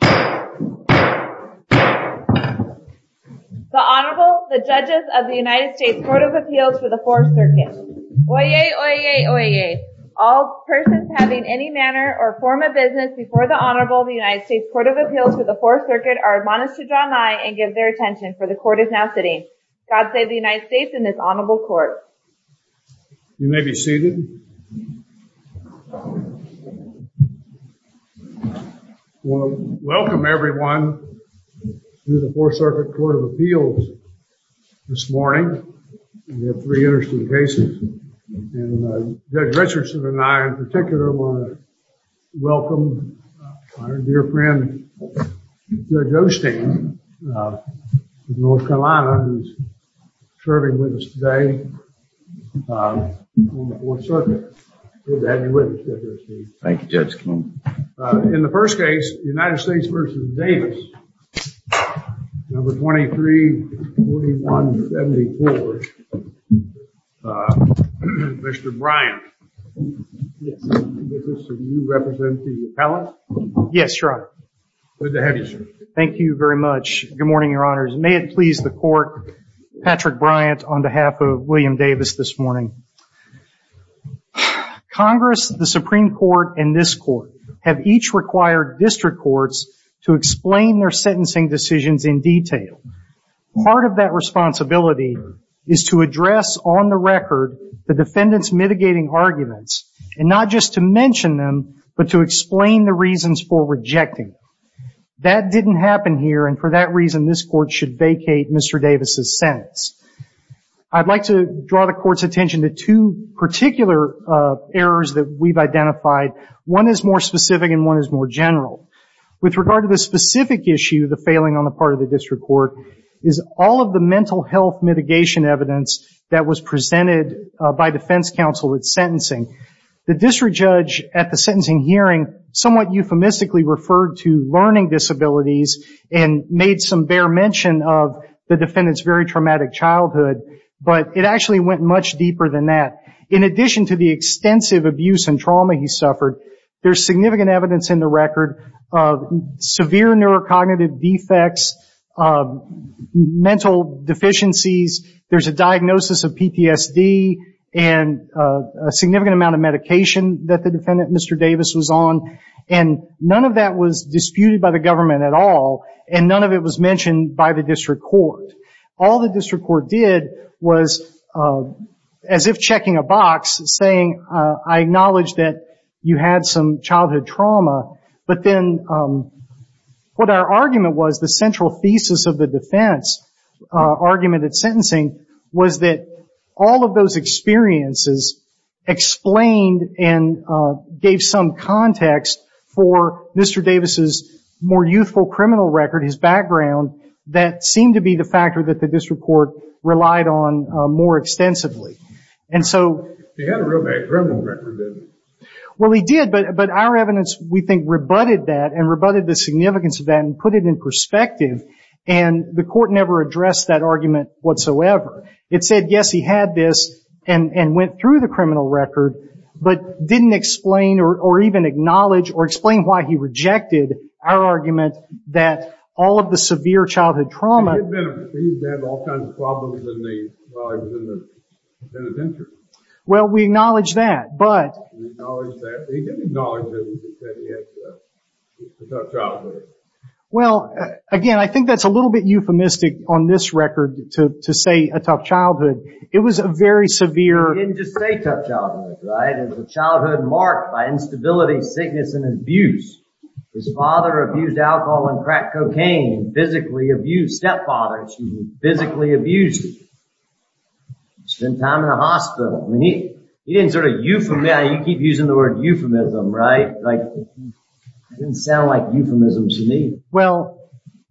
The Honorable, the Judges of the United States Court of Appeals for the 4th Circuit. Oyez, oyez, oyez. All persons having any manner or form of business before the Honorable of the United States Court of Appeals for the 4th Circuit are admonished to draw nigh and give their attention, for the Court is now sitting. God save the United States and this Honorable Court. You may be seated. I want to welcome everyone to the 4th Circuit Court of Appeals this morning. We have three interesting cases. And Judge Richardson and I in particular want to welcome our dear friend, Judge Osteen, from North Carolina, who's serving with us today on the 4th Circuit. Good to have you with us, Judge Osteen. Thank you, Judge. In the first case, United States v. Davis, No. 23-4174, Mr. Bryant. Yes. Mr. Bryant, you represent the appellant? Yes, Your Honor. Good to have you, sir. Thank you very much. Good morning, Your Honors. May it please the Court, Patrick Bryant on behalf of William Davis this morning. Congress, the Supreme Court, and this Court have each required district courts to explain their sentencing decisions in detail. Part of that responsibility is to address on the record the defendant's mitigating arguments and not just to mention them, but to explain the reasons for rejecting them. That didn't happen here, and for that reason, this Court should vacate Mr. Davis' sentence. I'd like to draw the Court's attention to two particular errors that we've identified. One is more specific and one is more general. With regard to the specific issue, the failing on the part of the district court, is all of the mental health mitigation evidence that was presented by defense counsel at sentencing. The district judge at the sentencing hearing somewhat euphemistically referred to learning disabilities and made some bare mention of the defendant's very traumatic childhood, but it actually went much deeper than that. In addition to the extensive abuse and trauma he suffered, there's significant evidence in the record of severe neurocognitive defects, mental deficiencies. There's a diagnosis of PTSD and a significant amount of medication that the defendant, Mr. Davis, was on, and none of that was disputed by the government at all, and none of it was mentioned by the district court. All the district court did was, as if checking a box, saying, I acknowledge that you had some childhood trauma, but then what our argument was, the central thesis of the defense argument at sentencing, was that all of those experiences explained and gave some context for Mr. Davis' more youthful criminal record, his background, that seemed to be the factor that the district court relied on more extensively. He had a real bad criminal record, didn't he? Well, he did, but our evidence, we think, rebutted that and rebutted the significance of that and put it in perspective, and the court never addressed that argument whatsoever. It said, yes, he had this and went through the criminal record, but didn't explain or even acknowledge or explain why he rejected our argument that all of the severe childhood trauma... Well, we acknowledge that, but... Well, again, I think that's a little bit euphemistic on this record to say a tough childhood. It was a very severe... Spent time in the hospital. You keep using the word euphemism, right? It didn't sound like euphemisms to me. Well,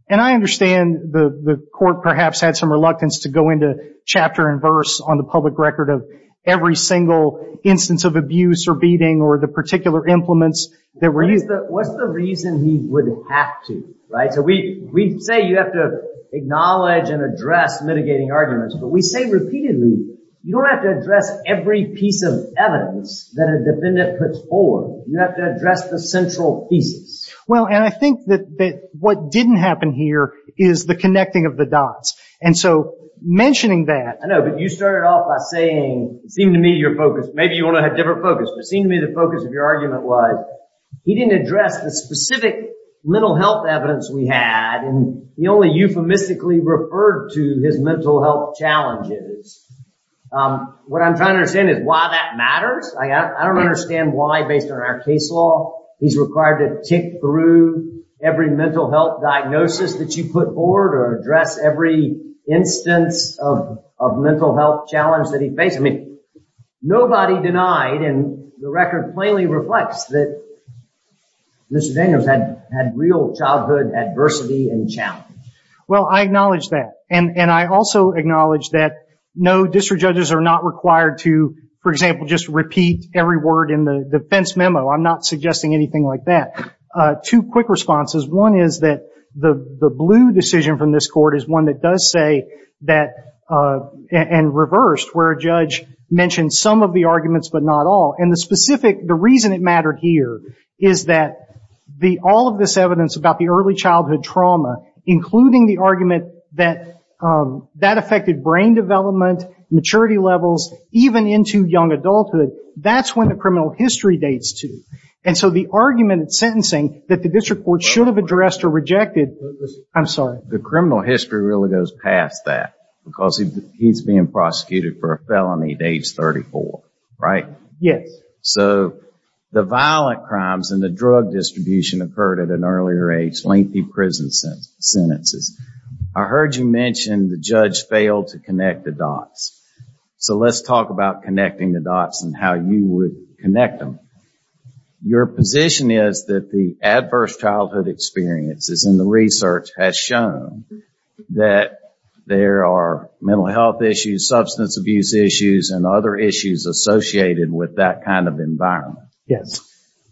and I understand the court perhaps had some reluctance to go into chapter and verse on the public record of every single instance of abuse or beating or the particular implements that were used. What's the reason he would have to? We say you have to acknowledge and address mitigating arguments, but we say repeatedly you don't have to address every piece of evidence that a defendant puts forward. You have to address the central pieces. Well, and I think that what didn't happen here is the connecting of the dots, and so mentioning that... I know, but you started off by saying it seemed to me your focus, maybe you want to have a different focus, but it seemed to me the focus of your argument was that he didn't address the specific mental health evidence we had and he only euphemistically referred to his mental health challenges. What I'm trying to understand is why that matters. I don't understand why, based on our case law, he's required to tick through every mental health diagnosis that you put forward or address every instance of mental health challenge that he faced. Nobody denied, and the record plainly reflects, that Mr. Daniels had real childhood adversity and challenges. Well, I acknowledge that, and I also acknowledge that no district judges are not required to, for example, just repeat every word in the defense memo. I'm not suggesting anything like that. Two quick responses. One is that the blue decision from this court is one that does say that, and reversed where a judge mentioned some of the arguments but not all, and the reason it mattered here is that all of this evidence about the early childhood trauma, including the argument that that affected brain development, maturity levels, even into young adulthood, that's when the criminal history dates to. And so the argument in sentencing that the district court should have addressed or rejected, I'm sorry. Well, the criminal history really goes past that because he's being prosecuted for a felony at age 34, right? Yes. So the violent crimes and the drug distribution occurred at an earlier age, lengthy prison sentences. I heard you mention the judge failed to connect the dots. So let's talk about connecting the dots and how you would connect them. Your position is that the adverse childhood experiences in the research has shown that there are mental health issues, substance abuse issues, and other issues associated with that kind of environment. Yes.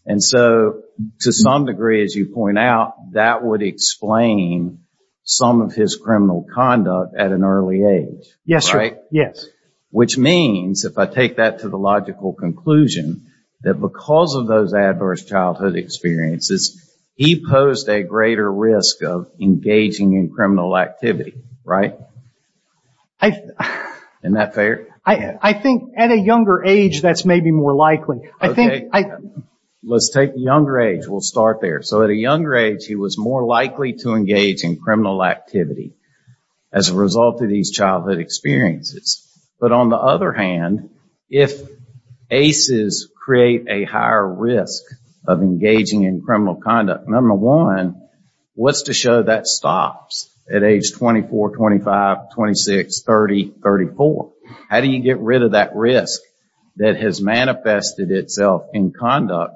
And so to some degree, as you point out, that would explain some of his criminal conduct at an early age, right? Yes. Which means, if I take that to the logical conclusion, that because of those adverse childhood experiences, he posed a greater risk of engaging in criminal activity, right? Isn't that fair? I think at a younger age that's maybe more likely. Okay. Let's take younger age. We'll start there. So at a younger age, he was more likely to engage in criminal activity as a result of these childhood experiences. But on the other hand, if ACEs create a higher risk of engaging in criminal conduct, number one, what's to show that stops at age 24, 25, 26, 30, 34? How do you get rid of that risk that has manifested itself in conduct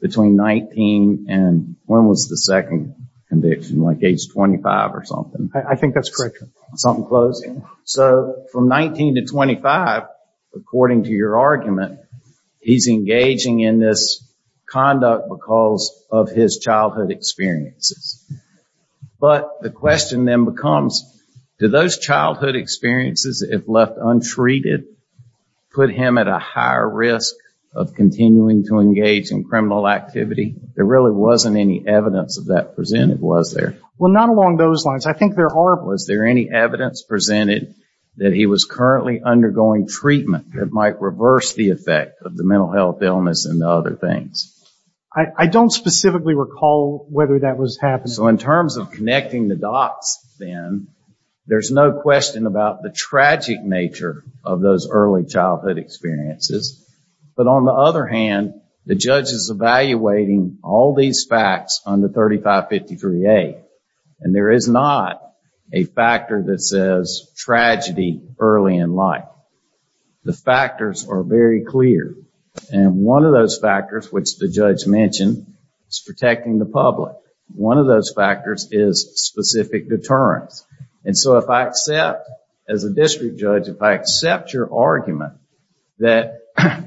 between 19 and when was the second conviction, like age 25 or something? I think that's correct. Something close. So from 19 to 25, according to your argument, he's engaging in this conduct because of his childhood experiences. But the question then becomes, do those childhood experiences, if left untreated, put him at a higher risk of continuing to engage in criminal activity? There really wasn't any evidence of that presented, was there? Well, not along those lines. I think there are. Was there any evidence presented that he was currently undergoing treatment that might reverse the effect of the mental health illness and other things? I don't specifically recall whether that was happening. So in terms of connecting the dots then, there's no question about the tragic nature of those early childhood experiences. But on the other hand, the judge is evaluating all these facts under 3553A, and there is not a factor that says tragedy early in life. The factors are very clear. And one of those factors, which the judge mentioned, is protecting the public. One of those factors is specific deterrence. And so if I accept, as a district judge, if I accept your argument that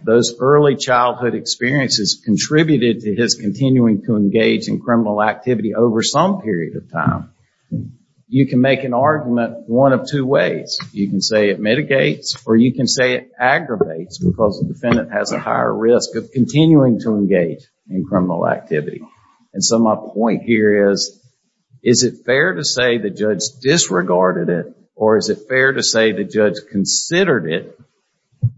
those early childhood experiences contributed to his continuing to engage in criminal activity over some period of time, you can make an argument one of two ways. You can say it mitigates or you can say it aggravates because the defendant has a higher risk of continuing to engage in criminal activity. And so my point here is, is it fair to say the judge disregarded it or is it fair to say the judge considered it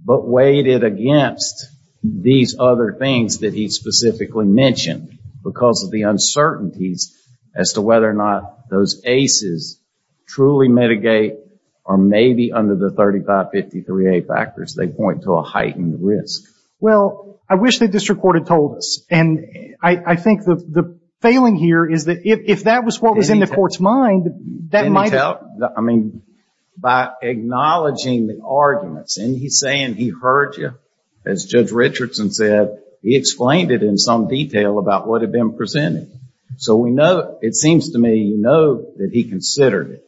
but weighed it against these other things that he specifically mentioned because of the uncertainties as to whether or not those ACEs truly mitigate or maybe under the 3553A factors they point to a heightened risk. Well, I wish the district court had told us. And I think the failing here is that if that was what was in the court's mind, I mean, by acknowledging the arguments and he's saying he heard you, as Judge Richardson said, he explained it in some detail about what had been presented. So we know, it seems to me, you know that he considered it.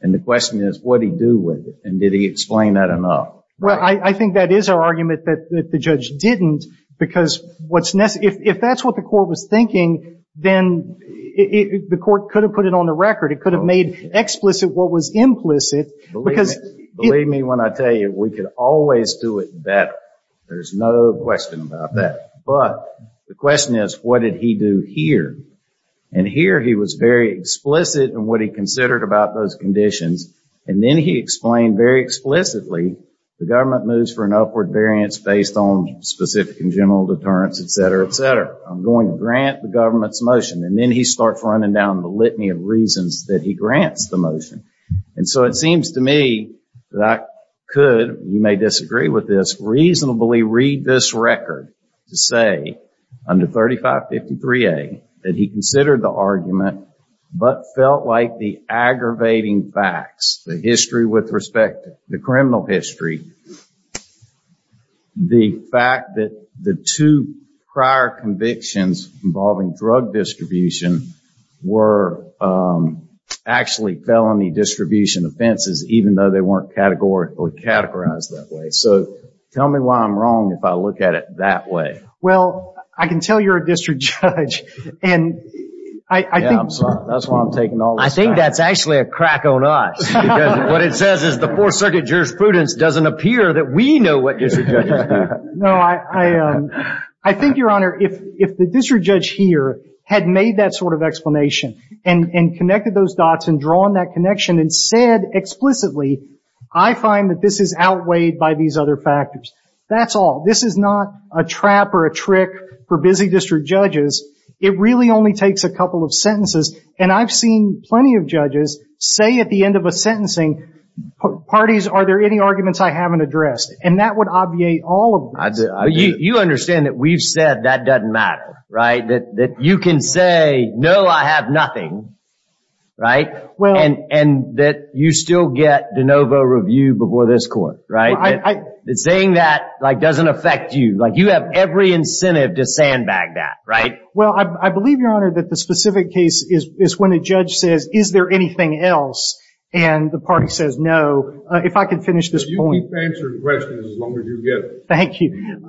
And the question is, what did he do with it and did he explain that enough? Well, I think that is our argument that the judge didn't because if that's what the court was thinking, then the court could have put it on the record. It could have made explicit what was implicit. Believe me when I tell you, we could always do it better. There's no question about that. But the question is, what did he do here? And here he was very explicit in what he considered about those conditions. And then he explained very explicitly the government moves for an upward variance based on specific and general deterrence, et cetera, et cetera. I'm going to grant the government's motion. And then he starts running down the litany of reasons that he grants the motion. And so it seems to me that I could, you may disagree with this, reasonably read this record to say under 3553A that he considered the argument but felt like the aggravating facts, the history with respect to the criminal history, the fact that the two prior convictions involving drug distribution were actually felony distribution offenses, even though they weren't categorically categorized that way. So tell me why I'm wrong if I look at it that way. Well, I can tell you're a district judge. Yeah, I'm sorry. That's why I'm taking all this back. I think that's actually a crack on us. What it says is the Fourth Circuit jurisprudence doesn't appear that we know what district judges do. No, I think, Your Honor, if the district judge here had made that sort of explanation and connected those dots and drawn that connection and said explicitly, I find that this is outweighed by these other factors. That's all. This is not a trap or a trick for busy district judges. It really only takes a couple of sentences. And I've seen plenty of judges say at the end of a sentencing, parties, are there any arguments I haven't addressed? And that would obviate all of this. You understand that we've said that doesn't matter, right? That you can say, no, I have nothing, right? And that you still get de novo review before this court, right? Saying that doesn't affect you. You have every incentive to sandbag that, right? Well, I believe, Your Honor, that the specific case is when a judge says, is there anything else? And the party says, no. If I could finish this point. You can answer the question as long as you get it. Thank you.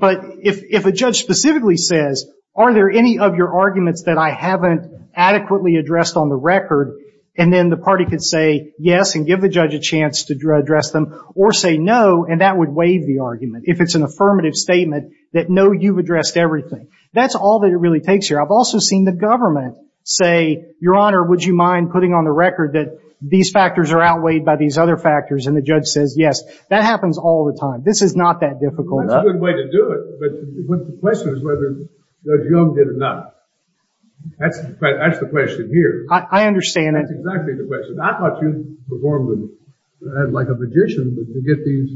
But if a judge specifically says, are there any of your arguments that I haven't adequately addressed on the record, and then the party can say, yes, and give the judge a chance to address them, or say no, and that would waive the argument if it's an affirmative statement that, no, you've addressed everything. That's all that it really takes here. I've also seen the government say, Your Honor, would you mind putting on the record that these factors are outweighed by these other factors? And the judge says, yes. That happens all the time. This is not that difficult. That's a good way to do it. But the question is whether Judge Young did or not. That's the question here. I understand it. That's exactly the question. I thought you performed like a magician to get these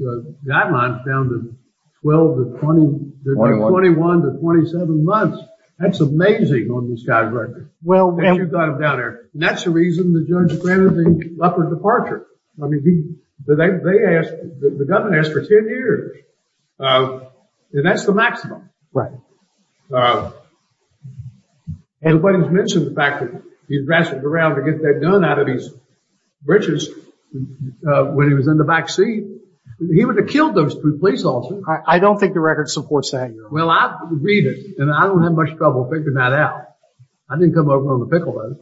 guidelines down to 12 to 21 to 27 months. That's amazing on this guy's record. Well, you've got them down there. And that's the reason the judge granted the upper departure. I mean, they asked, the government asked for 10 years. And that's the maximum. And when he mentioned the fact that he'd wrestled around to get that gun out of his britches when he was in the backseat, he would have killed those two police officers. I don't think the record supports that. Well, I read it, and I don't have much trouble figuring that out. I didn't come over on the pickle.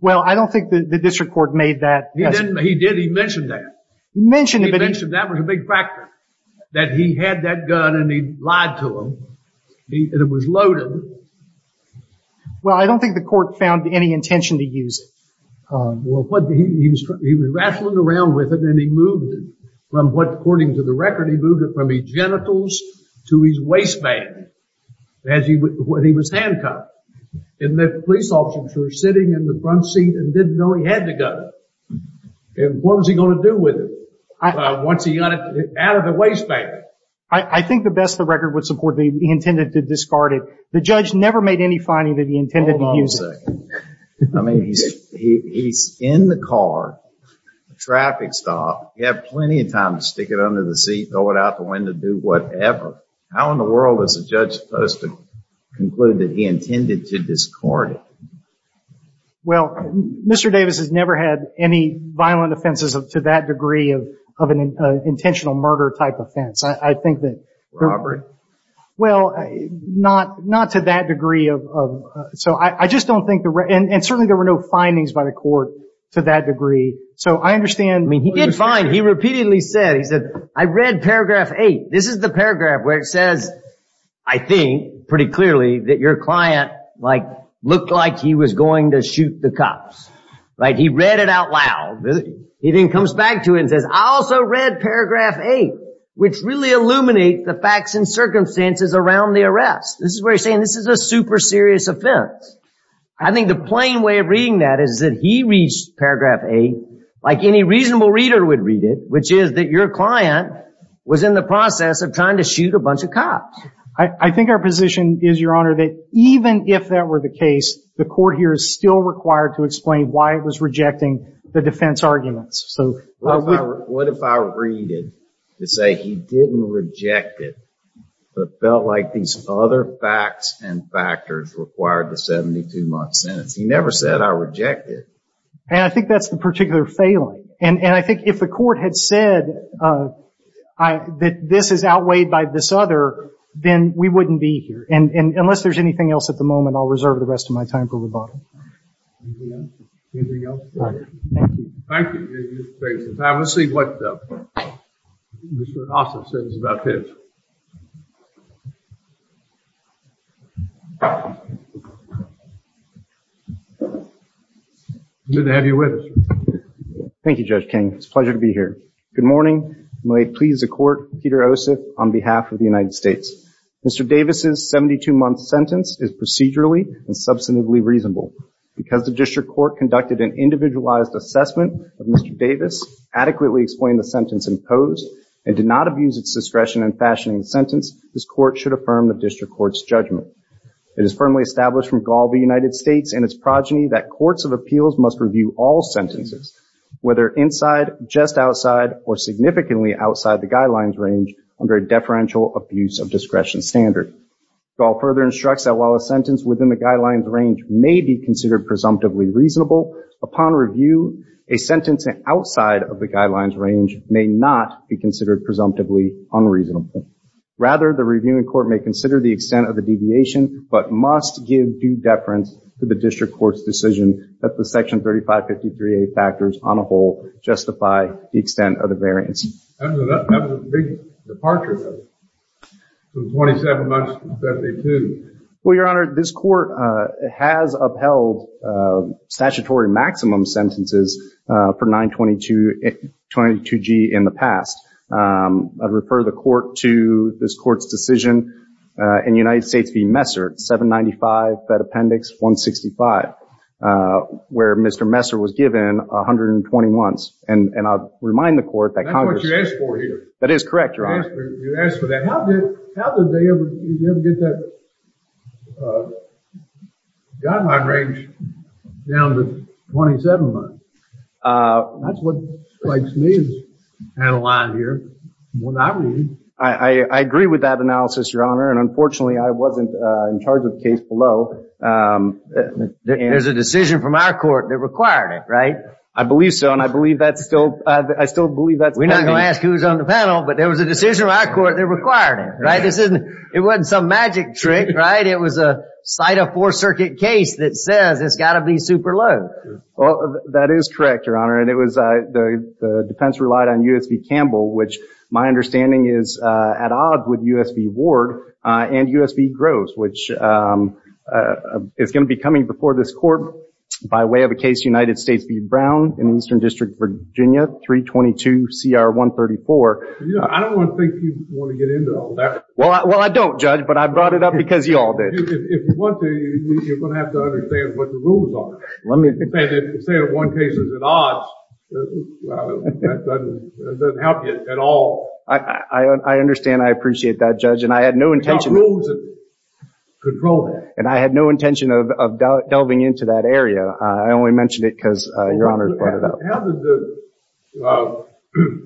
Well, I don't think the district court made that. He did. He mentioned that. He mentioned it. He mentioned that was a big factor, that he had that gun and he lied to him. And it was loaded. Well, I don't think the court found any intention to use it. Well, he was wrestling around with it, and he moved it. According to the record, he moved it from his genitals to his waistband when he was handcuffed. And the police officers were sitting in the front seat and didn't know he had the gun. And what was he going to do with it once he got it out of the waistband? I think the best the record would support, he intended to discard it. The judge never made any finding that he intended to use it. Hold on a second. I mean, he's in the car at a traffic stop. He had plenty of time to stick it under the seat, throw it out the window, do whatever. How in the world is a judge supposed to conclude that he intended to discard it? Well, Mr. Davis has never had any violent offenses to that degree of an intentional murder type offense. I think that there were. Well, not to that degree. So I just don't think there were, and certainly there were no findings by the court to that degree. So I understand. I mean, he did find, he repeatedly said, he said, I read paragraph eight. This is the paragraph where it says, I think pretty clearly that your client like looked like he was going to shoot the cops. Like he read it out loud. He then comes back to it and says, I also read paragraph eight, which really illuminate the facts and circumstances around the arrest. This is where he's saying this is a super serious offense. I think the plain way of reading that is that he reached paragraph eight like any reasonable reader would read it, which is that your client was in the process of trying to shoot a bunch of cops. I think our position is, Your Honor, that even if that were the case, the court here is still required to explain why it was rejecting the defense arguments. So what if I read it to say he didn't reject it, but felt like these other facts and factors required the 72-month sentence? He never said I rejected. And I think that's the particular failing. And I think if the court had said that this is outweighed by this other, then we wouldn't be here. And unless there's anything else at the moment, I'll reserve the rest of my time for rebuttal. Anything else? Thank you. Thank you. Let's see what Mr. Ossoff says about this. Good to have you with us. Thank you, Judge King. It's a pleasure to be here. Good morning. May it please the court, Peter Ossoff, on behalf of the United States. Mr. Davis' 72-month sentence is procedurally and substantively reasonable. Because the district court conducted an individualized assessment of Mr. Davis, adequately explained the sentence imposed, and did not abuse its discretion in fashioning the sentence, this court should affirm the district court's judgment. It is firmly established from Gall v. United States and its progeny that courts of appeals must review all sentences, whether inside, just outside, or significantly outside the guidelines range, under a deferential abuse of discretion standard. Gall further instructs that while a sentence within the guidelines range may be considered presumptively reasonable, upon review, a sentence outside of the guidelines range may not be considered presumptively unreasonable. Rather, the reviewing court may consider the extent of the deviation, but must give due deference to the district court's decision that the Section 3553A factors on a whole justify the extent of the variance. That was a big departure, though, from 27 months to 72. Well, Your Honor, this court has upheld statutory maximum sentences for 922G in the past. I'd refer the court to this court's decision in United States v. Messer, 795 Fed Appendix 165, where Mr. Messer was given 120 months. And I'll remind the court that Congress... That's what you asked for here. That is correct, Your Honor. You asked for that. How did they ever get that guideline range down to 27 months? That's what strikes me as... I agree with that analysis, Your Honor. And, unfortunately, I wasn't in charge of the case below. There's a decision from our court that required it, right? I believe so, and I believe that's still... We're not going to ask who's on the panel, but there was a decision from our court that required it, right? It wasn't some magic trick, right? It was a sight of a Fourth Circuit case that says it's got to be super low. That is correct, Your Honor. And the defense relied on U.S. v. Campbell, which my understanding is at odds with U.S. v. Ward and U.S. v. Groves, which is going to be coming before this court by way of a case United States v. Brown in the Eastern District, Virginia, 322CR134. I don't want to think you want to get into all that. Well, I don't, Judge, but I brought it up because you all did. If you want to, you're going to have to understand what the rules are. If you say that one case is at odds, that doesn't help you at all. I understand. I appreciate that, Judge, and I had no intention... You've got rules that control that. And I had no intention of delving into that area. I only mentioned it because Your Honor brought it up. How did the...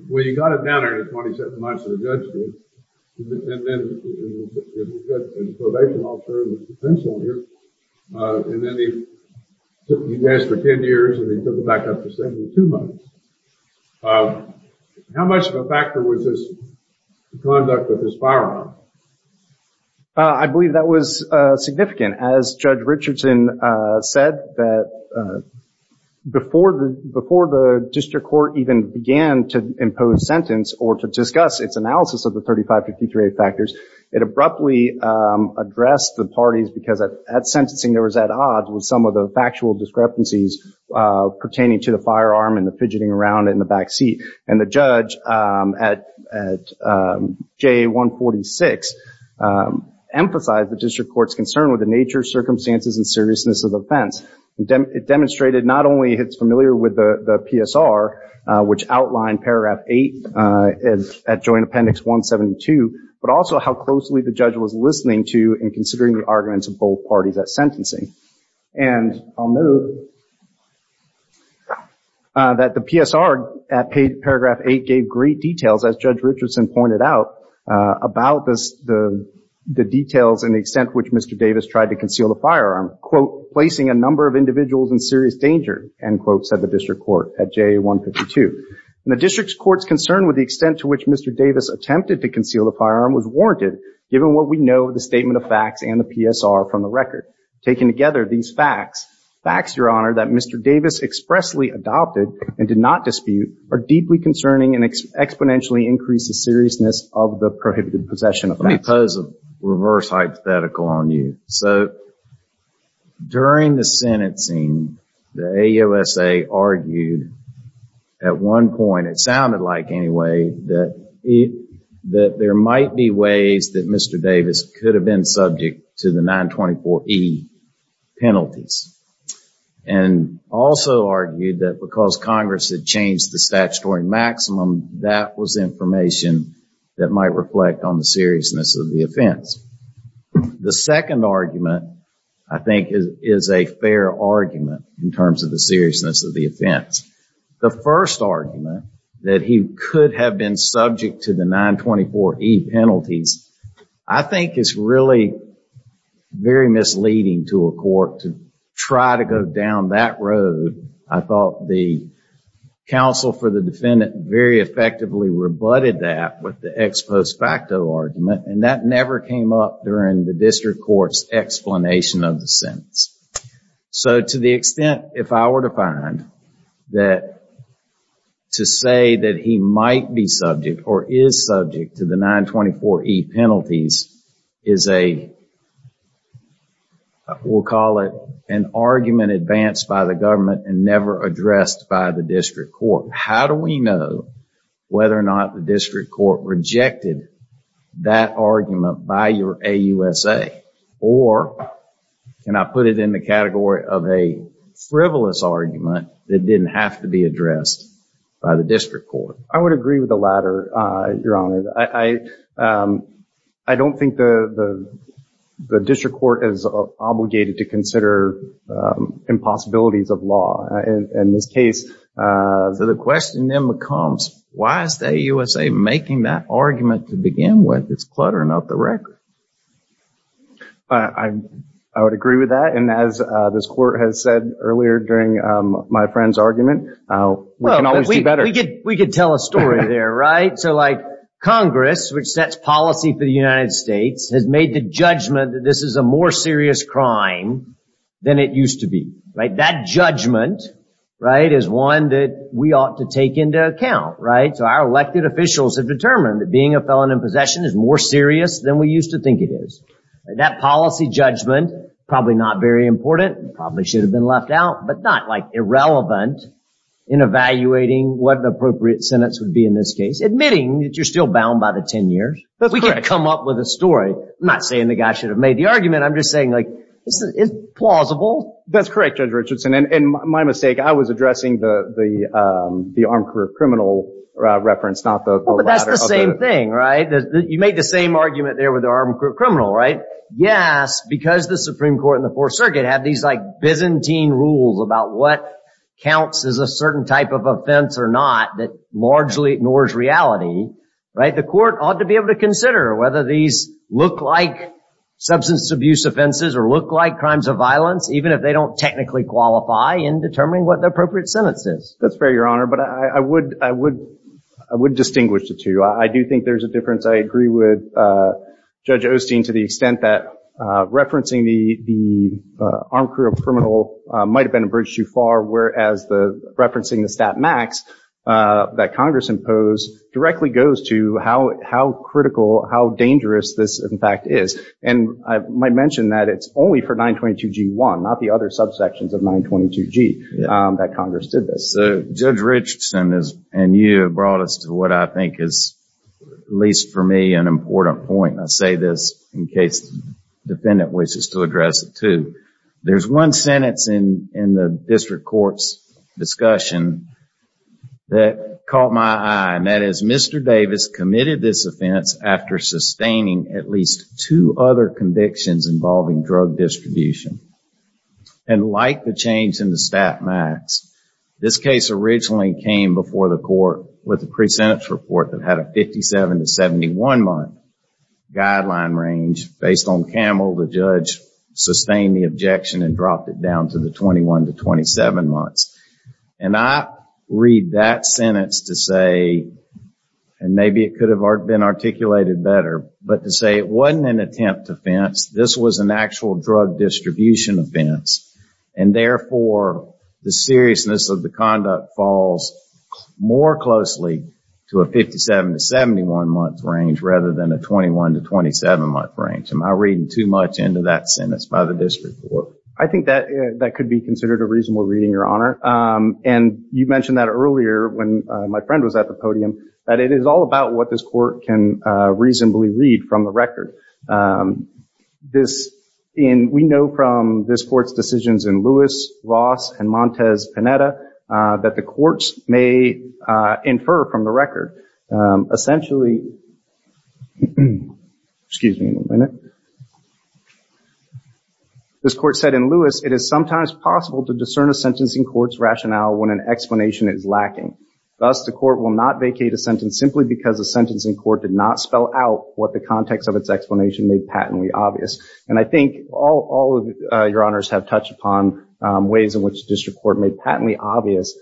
Well, you got it down there in the 27 months that the judge did, and then you've got a probation officer with potential here, and then he's been here for 10 years, and he took it back up to 72 months. How much of a factor was his conduct with his firearm? I believe that was significant. As Judge Richardson said, that before the district court even began to impose sentence or to discuss its analysis of the 35-53-8 factors, it abruptly addressed the parties because at sentencing there was at odds with some of the factual discrepancies pertaining to the firearm and the fidgeting around it in the back seat. And the judge at JA-146 emphasized the district court's concern with the nature, circumstances, and seriousness of the offense. It demonstrated not only it's familiar with the PSR, which outlined Paragraph 8 at Joint Appendix 172, but also how closely the judge was listening to and considering the arguments of both parties at sentencing. And I'll note that the PSR at Paragraph 8 gave great details, as Judge Richardson pointed out, about the details and the extent to which Mr. Davis tried to conceal the firearm. Quote, placing a number of individuals in serious danger, end quote, said the district court at JA-152. And the district court's concern with the extent to which Mr. Davis attempted to conceal the firearm was warranted, given what we know of the statement of facts and the PSR from the record. Taken together, these facts, facts, Your Honor, that Mr. Davis expressly adopted and did not dispute, are deeply concerning and exponentially increase the seriousness of the prohibited possession offense. I'll pose a reverse hypothetical on you. So, during the sentencing, the AUSA argued at one point, it sounded like anyway, that there might be ways that Mr. Davis could have been subject to the 924E penalties. And also argued that because Congress had changed the statutory maximum, that was information that might reflect on the seriousness of the offense. The second argument, I think, is a fair argument in terms of the seriousness of the offense. The first argument, that he could have been subject to the 924E penalties, I think is really very misleading to a court to try to go down that road. I thought the counsel for the defendant very effectively rebutted that with the ex post facto argument. And that never came up during the district court's explanation of the sentence. So, to the extent, if I were to find that to say that he might be subject or is subject to the 924E penalties, is a, we'll call it an argument advanced by the government and never addressed by the district court. How do we know whether or not the district court rejected that argument by your AUSA? Or, can I put it in the category of a frivolous argument that didn't have to be addressed by the district court? I would agree with the latter, Your Honor. I don't think the district court is obligated to consider impossibilities of law. In this case, the question then becomes, why is the AUSA making that argument to begin with? It's cluttering up the record. I would agree with that. And as this court has said earlier during my friend's argument, we can always do better. We could tell a story there, right? So, like, Congress, which sets policy for the United States, has made the judgment that this is a more serious crime than it used to be, right? That judgment, right, is one that we ought to take into account, right? So, our elected officials have determined that being a felon in possession is more serious than we used to think it is. That policy judgment, probably not very important, probably should have been left out, but not, like, irrelevant in evaluating what an appropriate sentence would be in this case, admitting that you're still bound by the 10 years. We can come up with a story. I'm not saying the guy should have made the argument. I'm just saying, like, it's plausible. That's correct, Judge Richardson. And my mistake, I was addressing the armed criminal reference, not the latter. But that's the same thing, right? You made the same argument there with the armed criminal, right? Yes, because the Supreme Court and the Fourth Circuit have these, like, Byzantine rules about what counts as a certain type of offense or not that largely ignores reality, right? The court ought to be able to consider whether these look like substance abuse offenses or look like crimes of violence, even if they don't technically qualify in determining what the appropriate sentence is. That's fair, Your Honor. But I would distinguish the two. I do think there's a difference. I agree with Judge Osteen to the extent that referencing the armed criminal might have been a bridge too far, whereas referencing the stat max that Congress imposed directly goes to how critical, how dangerous this, in fact, is. And I might mention that it's only for 922G1, not the other subsections of 922G that Congress did this. So Judge Richardson and you have brought us to what I think is, at least for me, an important point. And I say this in case the defendant wishes to address it too. There's one sentence in the district court's discussion that caught my eye, and that is Mr. Davis committed this offense after sustaining at least two other convictions involving drug distribution. And like the change in the stat max, this case originally came before the court with a pre-sentence report that had a 57 to 71-month guideline range based on Campbell, the judge, sustained the objection and dropped it down to the 21 to 27 months. And I read that sentence to say, and maybe it could have been articulated better, but to say it wasn't an attempt offense. This was an actual drug distribution offense. And therefore, the seriousness of the conduct falls more closely to a 57 to 71-month range rather than a 21 to 27-month range. Am I reading too much into that sentence by the district court? I think that that could be considered a reasonable reading, Your Honor. And you mentioned that earlier when my friend was at the podium, that it is all about what this court can reasonably read from the record. We know from this court's decisions in Lewis, Ross, and Montez-Panetta that the courts may infer from the record. Essentially, this court said in Lewis, it is sometimes possible to discern a sentencing court's rationale when an explanation is lacking. Thus, the court will not vacate a sentence simply because the sentencing court did not spell out what the context of its explanation made patently obvious. And I think all of your honors have touched upon ways in which district court made patently obvious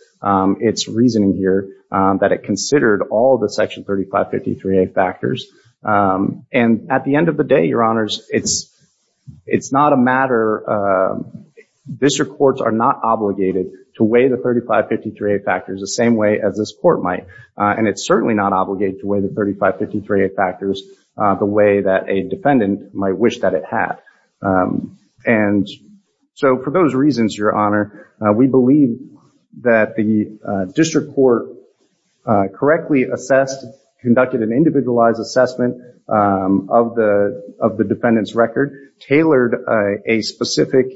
its reasoning here, that it considered all of the section 3553A factors. And at the end of the day, your honors, it's not a matter – district courts are not obligated to weigh the 3553A factors the same way as this court might. And it's certainly not obligated to weigh the 3553A factors the way that a defendant might wish that it had. And so for those reasons, your honor, we believe that the district court correctly assessed, conducted an individualized assessment of the defendant's record, tailored a specific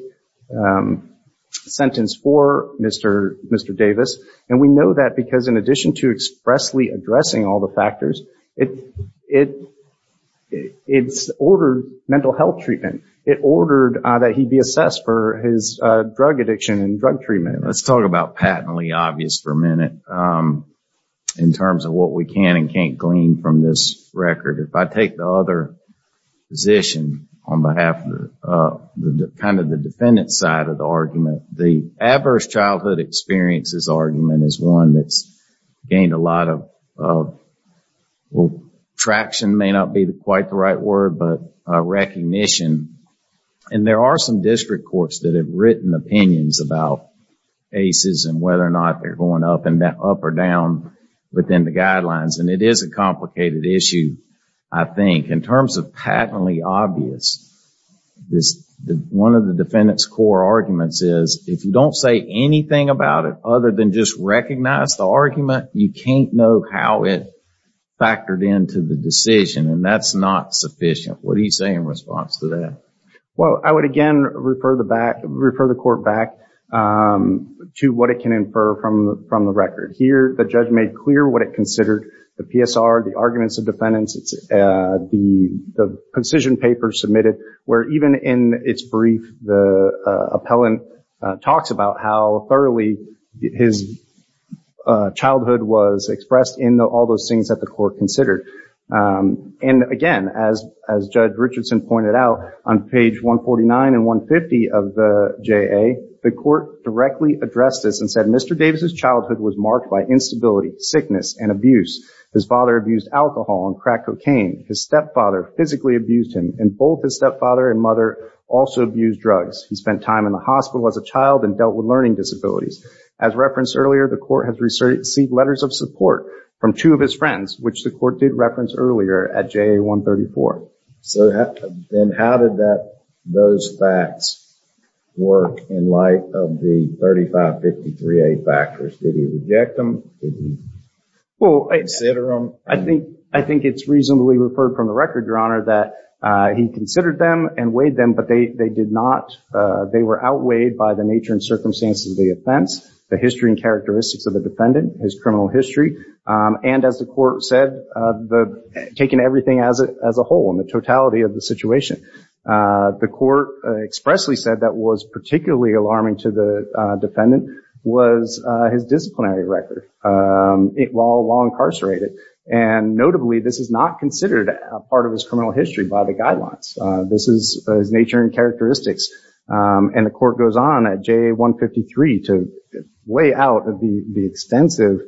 sentence for Mr. Davis. And we know that because in addition to expressly addressing all the factors, it ordered mental health treatment. It ordered that he be assessed for his drug addiction and drug treatment. Let's talk about patently obvious for a minute in terms of what we can and can't glean from this record. If I take the other position on behalf of kind of the defendant's side of the argument, the adverse childhood experiences argument is one that's gained a lot of – well, traction may not be quite the right word, but recognition. And there are some district courts that have written opinions about ACEs and whether or not they're going up or down within the guidelines. And it is a complicated issue, I think. In terms of patently obvious, one of the defendant's core arguments is if you don't say anything about it other than just recognize the argument, you can't know how it factored into the decision, and that's not sufficient. What do you say in response to that? Well, I would again refer the court back to what it can infer from the record. Here, the judge made clear what it considered the PSR, the arguments of defendants, the precision papers submitted, where even in its brief, the appellant talks about how thoroughly his childhood was expressed in all those things that the court considered. And again, as Judge Richardson pointed out, on page 149 and 150 of the JA, the court directly addressed this and said, Mr. Davis' childhood was marked by instability, sickness, and abuse. His father abused alcohol and cracked cocaine. His stepfather physically abused him, and both his stepfather and mother also abused drugs. He spent time in the hospital as a child and dealt with learning disabilities. As referenced earlier, the court has received letters of support from two of his friends, which the court did reference earlier at JA 134. So then how did those facts work in light of the 3553A factors? Did he reject them? I think it's reasonably referred from the record, Your Honor, that he considered them and weighed them, but they did not. They were outweighed by the nature and circumstances of the offense, the history and characteristics of the defendant, his criminal history, and as the court said, taking everything as a whole and the totality of the situation. The court expressly said that what was particularly alarming to the defendant was his disciplinary record while incarcerated. And notably, this is not considered a part of his criminal history by the guidelines. This is his nature and characteristics. And the court goes on at JA 153 to weigh out the extensive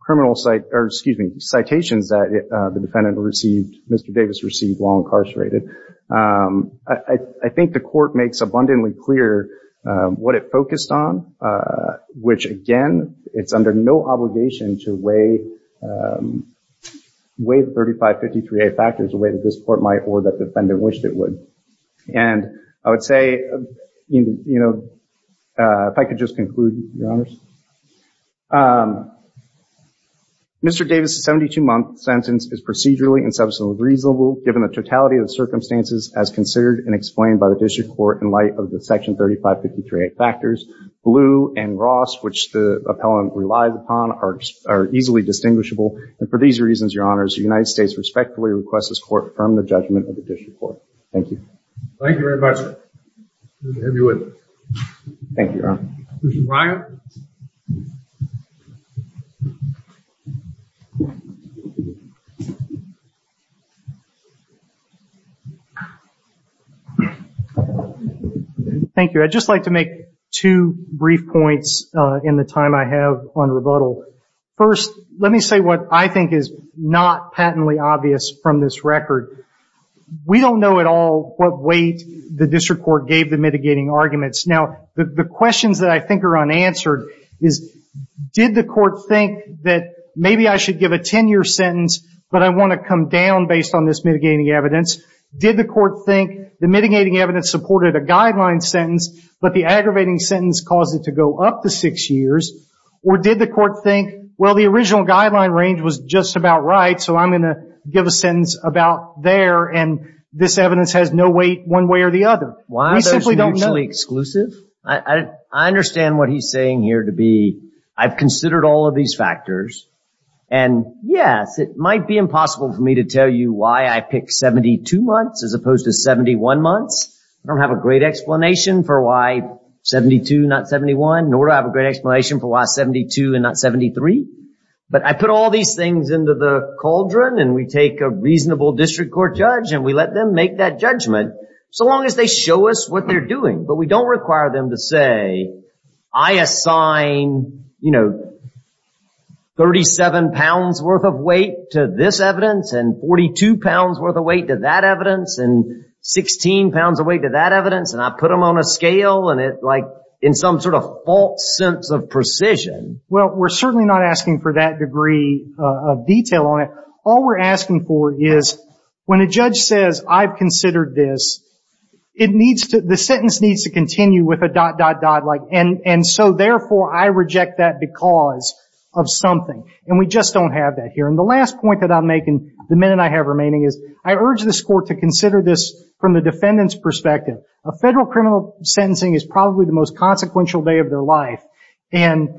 criminal citations that the defendant received, Mr. Davis received while incarcerated. I think the court makes abundantly clear what it focused on, which again, it's under no obligation to weigh the 3553A factors the way that this court might or that defendant wished it would. And I would say, you know, if I could just conclude, Your Honors, Mr. Davis' 72-month sentence is procedurally and substantially reasonable given the totality of the circumstances as considered and explained by the district court in light of the Section 3553A factors. Blue and Ross, which the appellant relies upon, are easily distinguishable. And for these reasons, Your Honors, the United States respectfully requests this court affirm the judgment of the district court. Thank you. Thank you very much. Thank you, Your Honor. Mr. Breyer. Thank you. I'd just like to make two brief points in the time I have on rebuttal. First, let me say what I think is not patently obvious from this record. We don't know at all what weight the district court gave the mitigating arguments. Now, the questions that I think are unanswered is, did the court think that maybe I should give a 10-year sentence, but I want to come down based on this mitigating evidence? Did the court think the mitigating evidence supported a guideline sentence, but the aggravating sentence caused it to go up to six years? Or did the court think, well, the original guideline range was just about right, so I'm going to give a sentence about there, and this evidence has no weight one way or the other? We simply don't know. Why are those mutually exclusive? I understand what he's saying here to be I've considered all of these factors, and, yes, it might be impossible for me to tell you why I picked 72 months as opposed to 71 months. I don't have a great explanation for why 72, not 71, nor do I have a great explanation for why 72 and not 73. But I put all these things into the cauldron, and we take a reasonable district court judge, and we let them make that judgment so long as they show us what they're doing. But we don't require them to say I assign 37 pounds worth of weight to this evidence and 42 pounds worth of weight to that evidence and 16 pounds of weight to that evidence, and I put them on a scale in some sort of false sense of precision. Well, we're certainly not asking for that degree of detail on it. All we're asking for is when a judge says I've considered this, the sentence needs to continue with a dot, dot, dot. And so, therefore, I reject that because of something, and we just don't have that here. And the last point that I'm making, the minute I have remaining, is I urge this court to consider this from the defendant's perspective. Federal criminal sentencing is probably the most consequential day of their life, and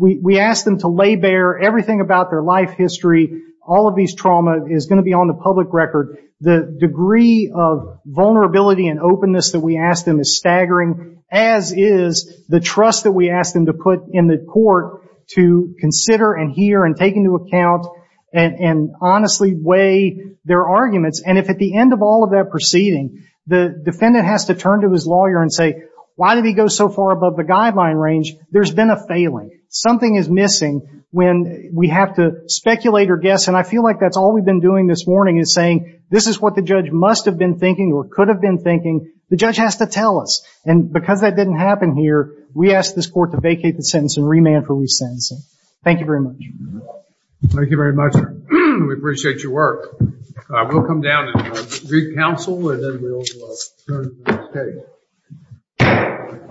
we ask them to lay bare everything about their life history. All of these trauma is going to be on the public record. The degree of vulnerability and openness that we ask them is staggering, as is the trust that we ask them to put in the court to consider and hear and take into account and honestly weigh their arguments. And if at the end of all of that proceeding the defendant has to turn to his lawyer and say why did he go so far above the guideline range, there's been a failing. Something is missing when we have to speculate or guess, and I feel like that's all we've been doing this morning, is saying this is what the judge must have been thinking or could have been thinking. The judge has to tell us, and because that didn't happen here, we ask this court to vacate the sentence and remand for resentencing. Thank you very much. Thank you very much. We appreciate your work. We'll come down and read counsel and then we'll turn to the stage.